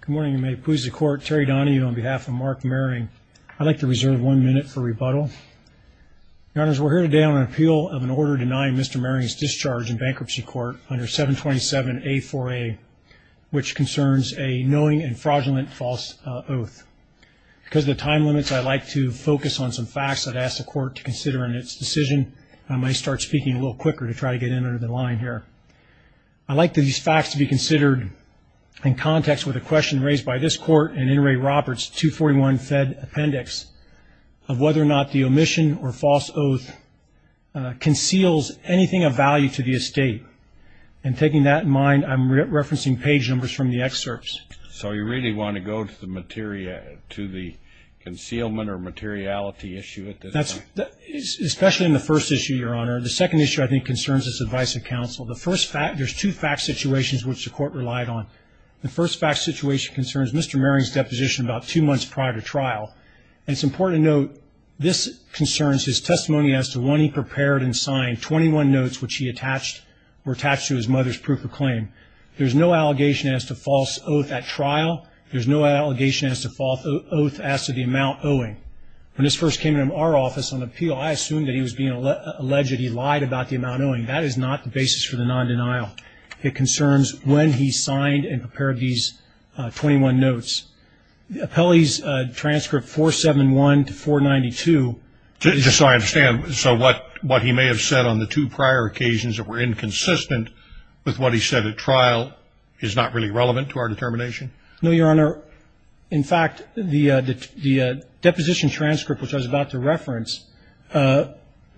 Good morning, and may it please the Court, Terry Donohue on behalf of Mark Maring. I'd like to reserve one minute for rebuttal. Your Honors, we're here today on an appeal of an order denying Mr. Maring's discharge in bankruptcy court under 727-A4A, which concerns a knowing and fraudulent false oath. Because of the time limits, I'd like to focus on some facts I'd ask the Court to consider in its decision. I might start speaking a little quicker to try to get in under the line here. I'd like these facts to be considered in context with a question raised by this Court in Inouye Roberts' 241 Fed Appendix of whether or not the omission or false oath conceals anything of value to the estate. And taking that in mind, I'm referencing page numbers from the excerpts. So you really want to go to the concealment or materiality issue at this time? Especially in the first issue, Your Honor. The second issue I think concerns this advice of counsel. There's two fact situations which the Court relied on. The first fact situation concerns Mr. Maring's deposition about two months prior to trial. And it's important to note this concerns his testimony as to when he prepared and signed 21 notes, which were attached to his mother's proof of claim. There's no allegation as to false oath at trial. There's no allegation as to false oath as to the amount owing. When this first came into our office on appeal, I assumed that he was being alleged he lied about the amount owing. That is not the basis for the non-denial. It concerns when he signed and prepared these 21 notes. Appellee's transcript 471 to 492. Just so I understand, so what he may have said on the two prior occasions that were inconsistent with what he said at trial is not really relevant to our determination? No, Your Honor. In fact, the deposition transcript, which I was about to reference,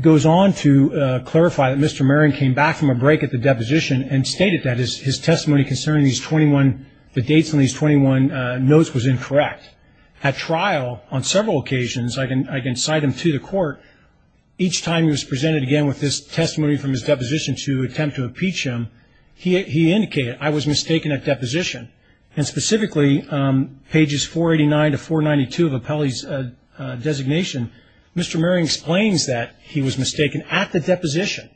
goes on to clarify that Mr. Maring came back from a break at the deposition and stated that his testimony concerning these 21, the dates on these 21 notes was incorrect. At trial, on several occasions, I can cite him to the court. Each time he was presented again with this testimony from his deposition to attempt to impeach him, he indicated, I was mistaken at deposition. And specifically, pages 489 to 492 of Appellee's designation, Mr. Maring explains that he was mistaken at the deposition.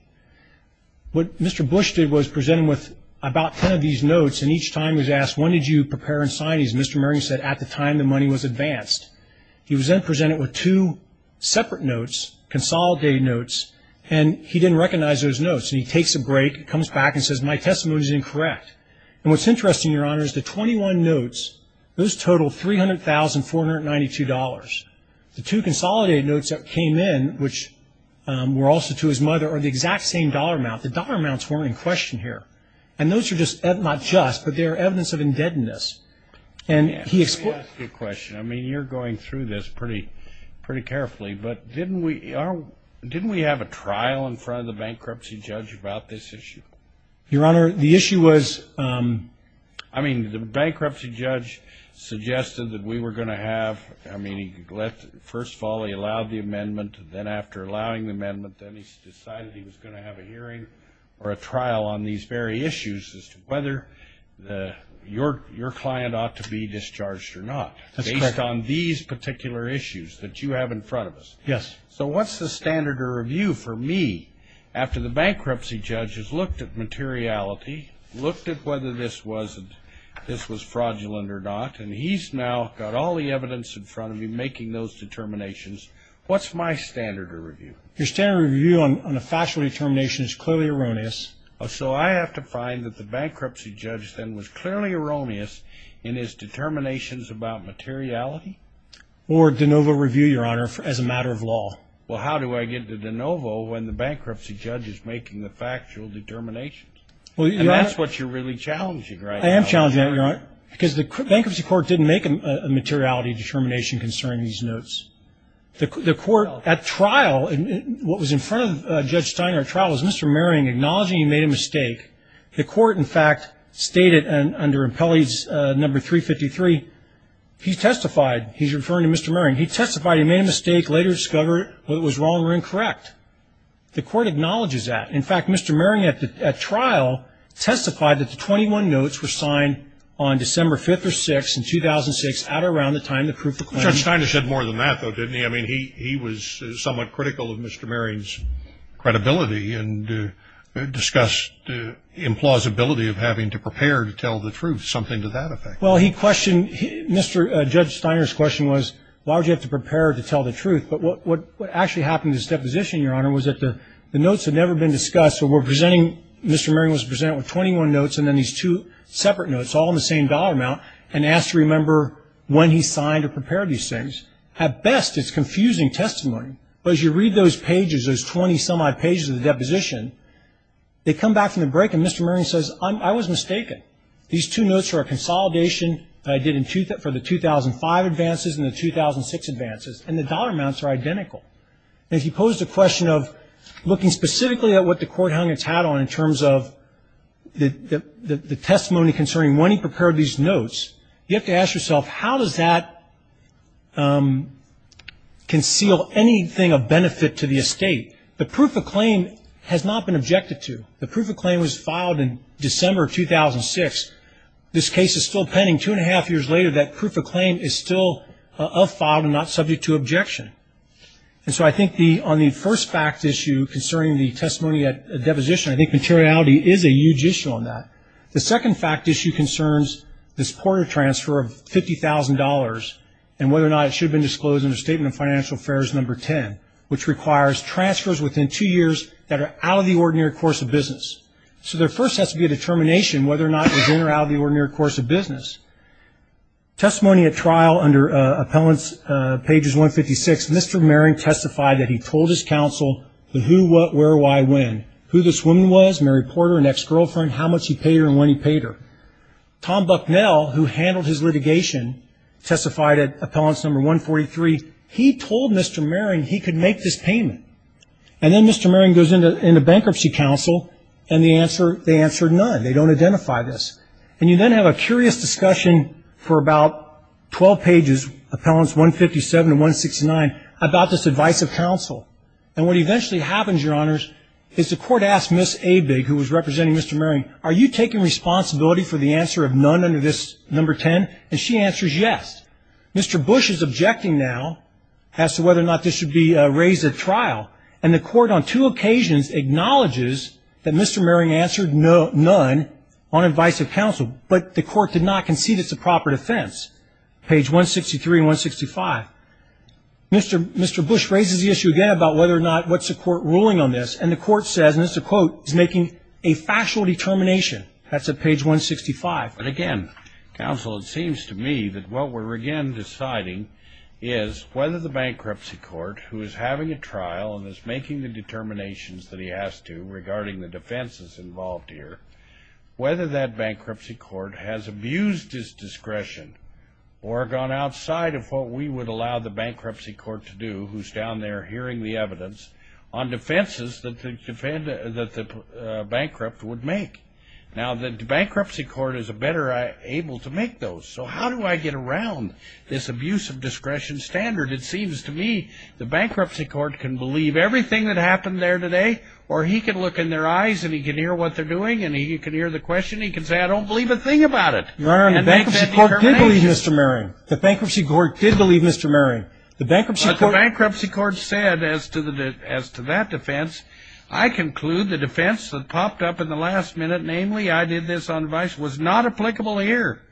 What Mr. Bush did was present him with about ten of these notes, and each time he was asked, when did you prepare and sign these? Mr. Maring said, at the time the money was advanced. He was then presented with two separate notes, consolidated notes, and he didn't recognize those notes. And he takes a break, comes back, and says, my testimony is incorrect. And what's interesting, Your Honor, is the 21 notes, those total $300,492. The two consolidated notes that came in, which were also to his mother, are the exact same dollar amount. The dollar amounts weren't in question here. And those are just not just, but they're evidence of indebtedness. And he explains. Let me ask you a question. I mean, you're going through this pretty carefully, but didn't we have a trial in front of the bankruptcy judge about this issue? Your Honor, the issue was ---- I mean, the bankruptcy judge suggested that we were going to have ---- I mean, first of all, he allowed the amendment. Then after allowing the amendment, then he decided he was going to have a hearing or a trial on these very issues as to whether your client ought to be discharged or not. That's correct. Based on these particular issues that you have in front of us. Yes. So what's the standard of review for me after the bankruptcy judge has looked at materiality, looked at whether this was fraudulent or not, and he's now got all the evidence in front of him making those determinations. What's my standard of review? Your standard of review on a factual determination is clearly erroneous. So I have to find that the bankruptcy judge then was clearly erroneous in his determinations about materiality? Or de novo review, Your Honor, as a matter of law. Well, how do I get to de novo when the bankruptcy judge is making the factual determinations? And that's what you're really challenging right now. I am challenging that, Your Honor, because the bankruptcy court didn't make a materiality determination concerning these notes. The court at trial, what was in front of Judge Steiner at trial, was Mr. Merrion acknowledging he made a mistake. The court, in fact, stated under Impelli's number 353, he testified. He's referring to Mr. Merrion. He testified he made a mistake, later discovered it was wrong or incorrect. The court acknowledges that. In fact, Mr. Merrion at trial testified that the 21 notes were signed on December 5th or 6th in 2006, at or around the time of the proof of claim. Judge Steiner said more than that, though, didn't he? I mean, he was somewhat critical of Mr. Merrion's credibility and discussed the implausibility of having to prepare to tell the truth, something to that effect. Well, he questioned, Judge Steiner's question was, why would you have to prepare to tell the truth? But what actually happened in this deposition, Your Honor, was that the notes had never been discussed. So we're presenting, Mr. Merrion was presented with 21 notes and then these two separate notes, all in the same dollar amount, and asked to remember when he signed or prepared these things. At best, it's confusing testimony, but as you read those pages, those 20-some-odd pages of the deposition, they come back from the break and Mr. Merrion says, I was mistaken. These two notes are a consolidation I did for the 2005 advances and the 2006 advances, and the dollar amounts are identical. And he posed the question of looking specifically at what the court hung its hat on in terms of the testimony concerning when he prepared these notes. You have to ask yourself, how does that conceal anything of benefit to the estate? The proof of claim has not been objected to. The proof of claim was filed in December of 2006. This case is still pending two-and-a-half years later. That proof of claim is still a file and not subject to objection. And so I think on the first fact issue concerning the testimony at deposition, I think materiality is a huge issue on that. The second fact issue concerns this Porter transfer of $50,000 and whether or not it should have been disclosed under Statement of Financial Affairs No. 10, which requires transfers within two years that are out of the ordinary course of business. So there first has to be a determination whether or not it was in or out of the ordinary course of business. Testimony at trial under Appellant's pages 156, Mr. Merrion testified that he told his counsel the who, what, how much he paid her, an ex-girlfriend, how much he paid her and when he paid her. Tom Bucknell, who handled his litigation, testified at Appellant's No. 143, he told Mr. Merrion he could make this payment. And then Mr. Merrion goes into bankruptcy counsel, and they answer none. They don't identify this. And you then have a curious discussion for about 12 pages, Appellants 157 and 169, about this advice of counsel. And what eventually happens, Your Honors, is the court asks Ms. Abig, who was representing Mr. Merrion, are you taking responsibility for the answer of none under this No. 10? And she answers yes. Mr. Bush is objecting now as to whether or not this should be raised at trial. And the court on two occasions acknowledges that Mr. Merrion answered none on advice of counsel, but the court did not concede it's a proper defense, page 163 and 165. Mr. Bush raises the issue again about whether or not what's the court ruling on this. And the court says, and this is a quote, he's making a factual determination. That's at page 165. But again, counsel, it seems to me that what we're again deciding is whether the bankruptcy court, who is having a trial and is making the determinations that he has to regarding the defenses involved here, whether that bankruptcy court has abused his discretion or gone outside of what we would allow the bankruptcy court to do, who's down there hearing the evidence, on defenses that the bankrupt would make. Now, the bankruptcy court is better able to make those. So how do I get around this abuse of discretion standard? It seems to me the bankruptcy court can believe everything that happened there today, or he can look in their eyes and he can hear what they're doing and he can hear the question. He can say, I don't believe a thing about it. Your Honor, the bankruptcy court did believe Mr. Merring. The bankruptcy court did believe Mr. Merring. The bankruptcy court said as to that defense, I conclude the defense that popped up in the last minute, namely I did this on advice, was not applicable here.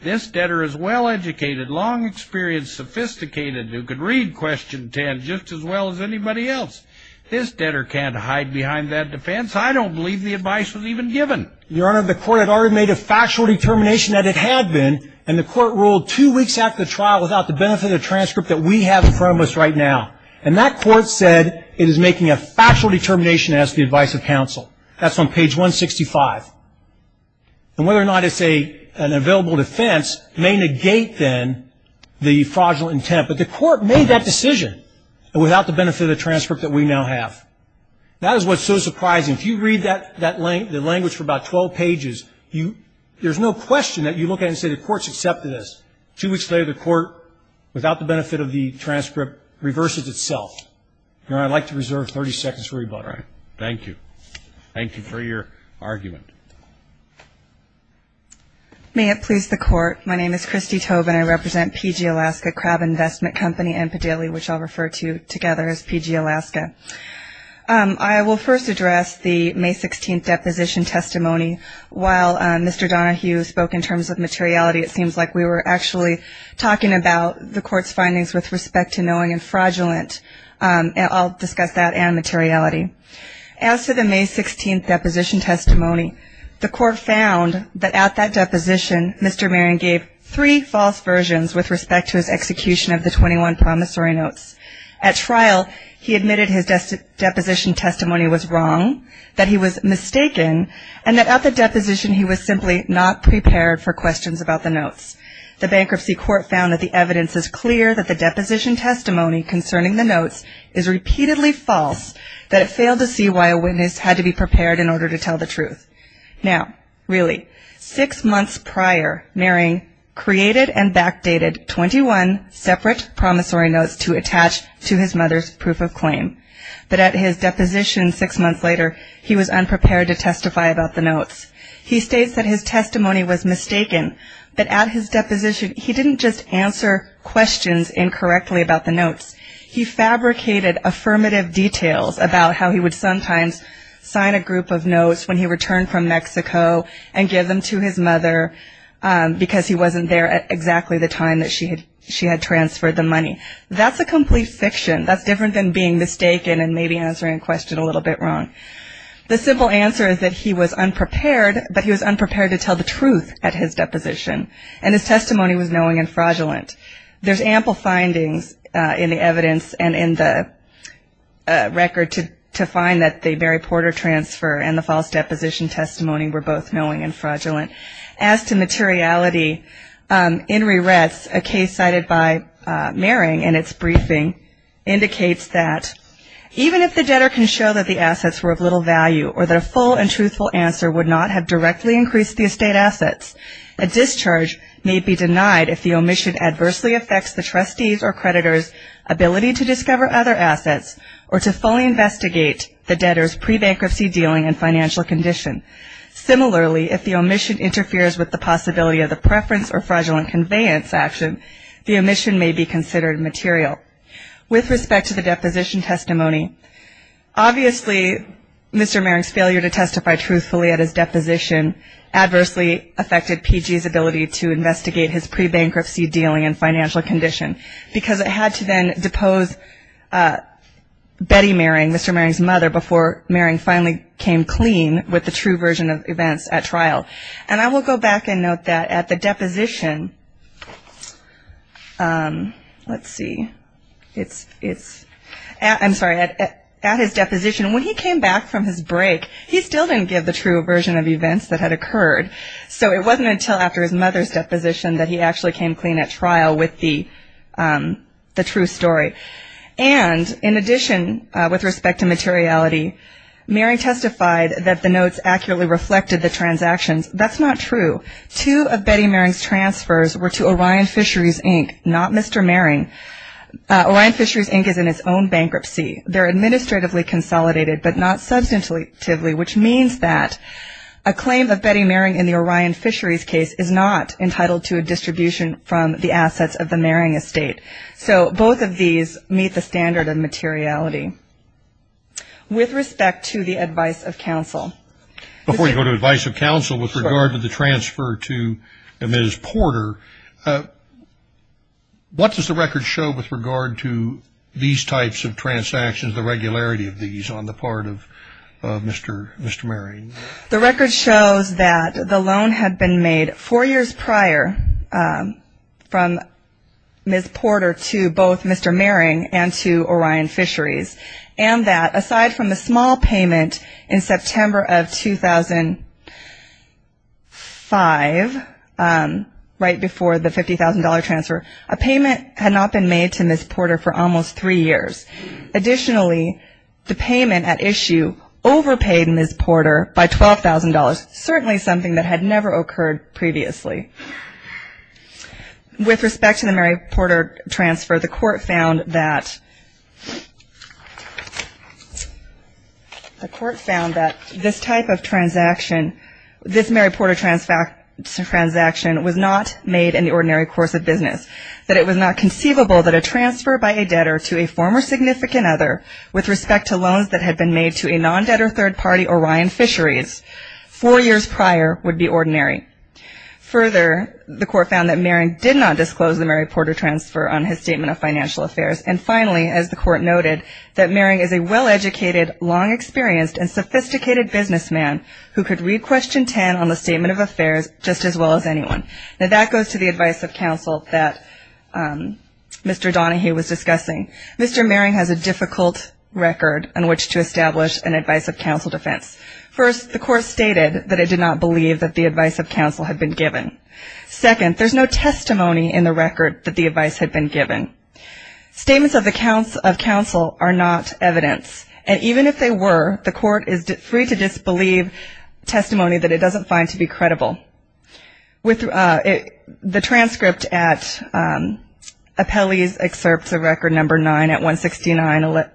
This debtor is well-educated, long experience, sophisticated, who can read Question 10 just as well as anybody else. This debtor can't hide behind that defense. I don't believe the advice was even given. Your Honor, the court had already made a factual determination that it had been, and the court ruled two weeks after the trial without the benefit of the transcript that we have in front of us right now. And that court said it is making a factual determination as to the advice of counsel. That's on page 165. And whether or not it's an available defense may negate, then, the fraudulent intent. But the court made that decision without the benefit of the transcript that we now have. That is what's so surprising. If you read that language for about 12 pages, there's no question that you look at it and say the court's accepted this. Two weeks later, the court, without the benefit of the transcript, reverses itself. Your Honor, I'd like to reserve 30 seconds for rebuttal. All right. Thank you. Thank you for your argument. May it please the court. My name is Christy Tobin. I represent PG Alaska Crab Investment Company and Padilly, which I'll refer to together as PG Alaska. I will first address the May 16th deposition testimony. While Mr. Donohue spoke in terms of materiality, it seems like we were actually talking about the court's findings with respect to knowing and fraudulent. I'll discuss that and materiality. As to the May 16th deposition testimony, the court found that at that deposition, Mr. Marin gave three false versions with respect to his execution of the 21 promissory notes. At trial, he admitted his deposition testimony was wrong, that he was mistaken, and that at the deposition he was simply not prepared for questions about the notes. The bankruptcy court found that the evidence is clear that the deposition testimony concerning the notes is repeatedly false, that it failed to see why a witness had to be prepared in order to tell the truth. Now, really, six months prior, Marin created and backdated 21 separate promissory notes to attach to his mother's proof of claim. But at his deposition six months later, he was unprepared to testify about the notes. He states that his testimony was mistaken, that at his deposition he didn't just answer questions incorrectly about the notes. He fabricated affirmative details about how he would sometimes sign a group of notes when he returned from Mexico and give them to his mother because he wasn't there at exactly the time that she had transferred the money. That's a complete fiction. That's different than being mistaken and maybe answering a question a little bit wrong. The simple answer is that he was unprepared, but he was unprepared to tell the truth at his deposition, and his testimony was knowing and fraudulent. There's ample findings in the evidence and in the record to find that the Mary Porter transfer and the false deposition testimony were both knowing and fraudulent. As to materiality, in rewrites, a case cited by Marin in its briefing indicates that, even if the debtor can show that the assets were of little value or that a full and truthful answer would not have directly increased the estate assets, a discharge may be denied if the omission adversely affects the trustee's or creditor's ability to discover other assets or to fully investigate the debtor's pre-bankruptcy dealing and financial condition. Similarly, if the omission interferes with the possibility of the preference or fraudulent conveyance action, the omission may be considered material. With respect to the deposition testimony, obviously Mr. Marin's failure to testify truthfully at his deposition adversely affected PG's ability to investigate his pre-bankruptcy dealing and financial condition because it had to then depose Betty Marin, Mr. Marin's mother, before Marin finally came clean with the true version of events at trial. And I will go back and note that at the deposition, let's see. I'm sorry, at his deposition, when he came back from his break, he still didn't give the true version of events that had occurred. So it wasn't until after his mother's deposition that he actually came clean at trial with the true story. And in addition, with respect to materiality, Marin testified that the notes accurately reflected the transactions. That's not true. Two of Betty Marin's transfers were to Orion Fisheries, Inc., not Mr. Marin. Orion Fisheries, Inc. is in its own bankruptcy. They're administratively consolidated but not substantively, which means that a claim of Betty Marin in the Orion Fisheries case is not entitled to a distribution from the assets of the Marin estate. So both of these meet the standard of materiality. With respect to the advice of counsel. Before you go to advice of counsel with regard to the transfer to Ms. Porter, what does the record show with regard to these types of transactions, the regularity of these on the part of Mr. Marin? The record shows that the loan had been made four years prior from Ms. Porter to both Mr. Marin and to Orion Fisheries, and that aside from a small payment in September of 2005, right before the $50,000 transfer, a payment had not been made to Ms. Porter for almost three years. Additionally, the payment at issue overpaid Ms. Porter by $12,000, certainly something that had never occurred previously. With respect to the Mary Porter transfer, the court found that this type of transaction, this Mary Porter transaction was not made in the ordinary course of business, that it was not conceivable that a transfer by a debtor to a former significant other with respect to loans that had been made to a non-debtor third party, Orion Fisheries, four years prior would be ordinary. Further, the court found that Marin did not disclose the Mary Porter transfer on his statement of financial affairs. And finally, as the court noted, that Marin is a well-educated, long-experienced, and sophisticated businessman who could read Question 10 on the statement of affairs just as well as anyone. Now that goes to the advice of counsel that Mr. Donahue was discussing. Mr. Marin has a difficult record on which to establish an advice of counsel defense. First, the court stated that it did not believe that the advice of counsel had been given. Second, there's no testimony in the record that the advice had been given. Statements of counsel are not evidence, and even if they were, the court is free to disbelieve testimony that it doesn't find to be credible. The transcript at Apelli's excerpts of Record No. 9 at 169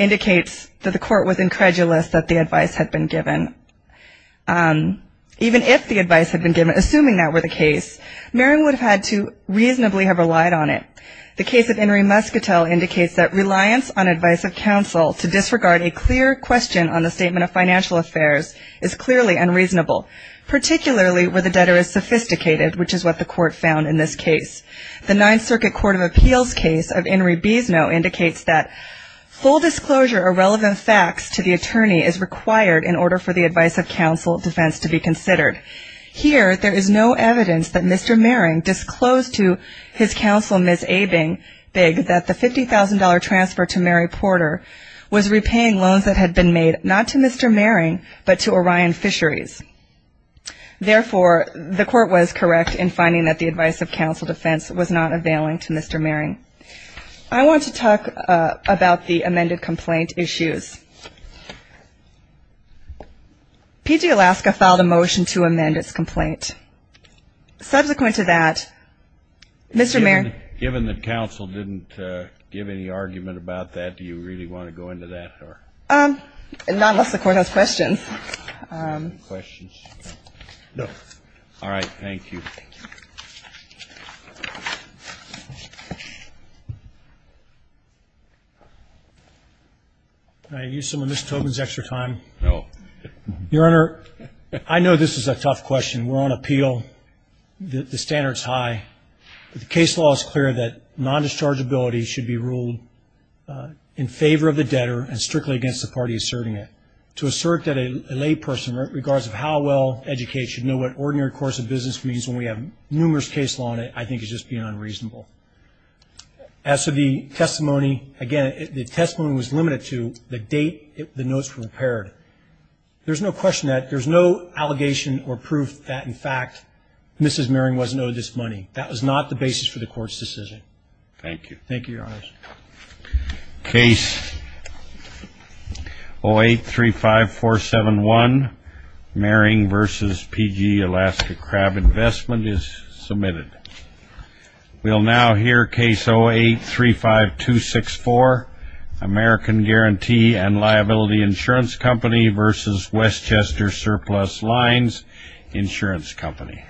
indicates that the court was incredulous that the advice had been given. Even if the advice had been given, assuming that were the case, Marin would have had to reasonably have relied on it. The case of Inri Muscatel indicates that reliance on advice of counsel to disregard a clear question on the statement of financial affairs is clearly unreasonable, particularly where the debtor is sophisticated, which is what the court found in this case. The Ninth Circuit Court of Appeals case of Inri Bisno indicates that full disclosure of relevant facts to the attorney is required in order for the advice of counsel defense to be considered. Here, there is no evidence that Mr. Marin disclosed to his counsel, Ms. Abing-Bigg, that the $50,000 transfer to Mary Porter was repaying loans that had been made, not to Mr. Marin, but to Orion Fisheries. Therefore, the court was correct in finding that the advice of counsel defense was not availing to Mr. Marin. I want to talk about the amended complaint issues. PG Alaska filed a motion to amend its complaint. Subsequent to that, Mr. Marin. Given that counsel didn't give any argument about that, do you really want to go into that? Not unless the court has questions. Questions? No. All right. Thank you. Thank you. Can I use some of Ms. Tobin's extra time? No. Your Honor, I know this is a tough question. We're on appeal. The standard is high. The case law is clear that non-dischargeability should be ruled in favor of the debtor and strictly against the party asserting it. To assert that a lay person, regardless of how well educated, should know what ordinary course of business means when we have numerous case law in it, I think is just being unreasonable. As to the testimony, again, the testimony was limited to the date the notes were prepared. There's no question that there's no allegation or proof that, in fact, Mrs. Marin wasn't owed this money. That was not the basis for the court's decision. Thank you. Thank you, Your Honor. Case 0835471, Maring v. P.G., Alaska Crab Investment, is submitted. We'll now hear case 0835264, American Guarantee and Liability Insurance Company v. Westchester Surplus Lines Insurance Company.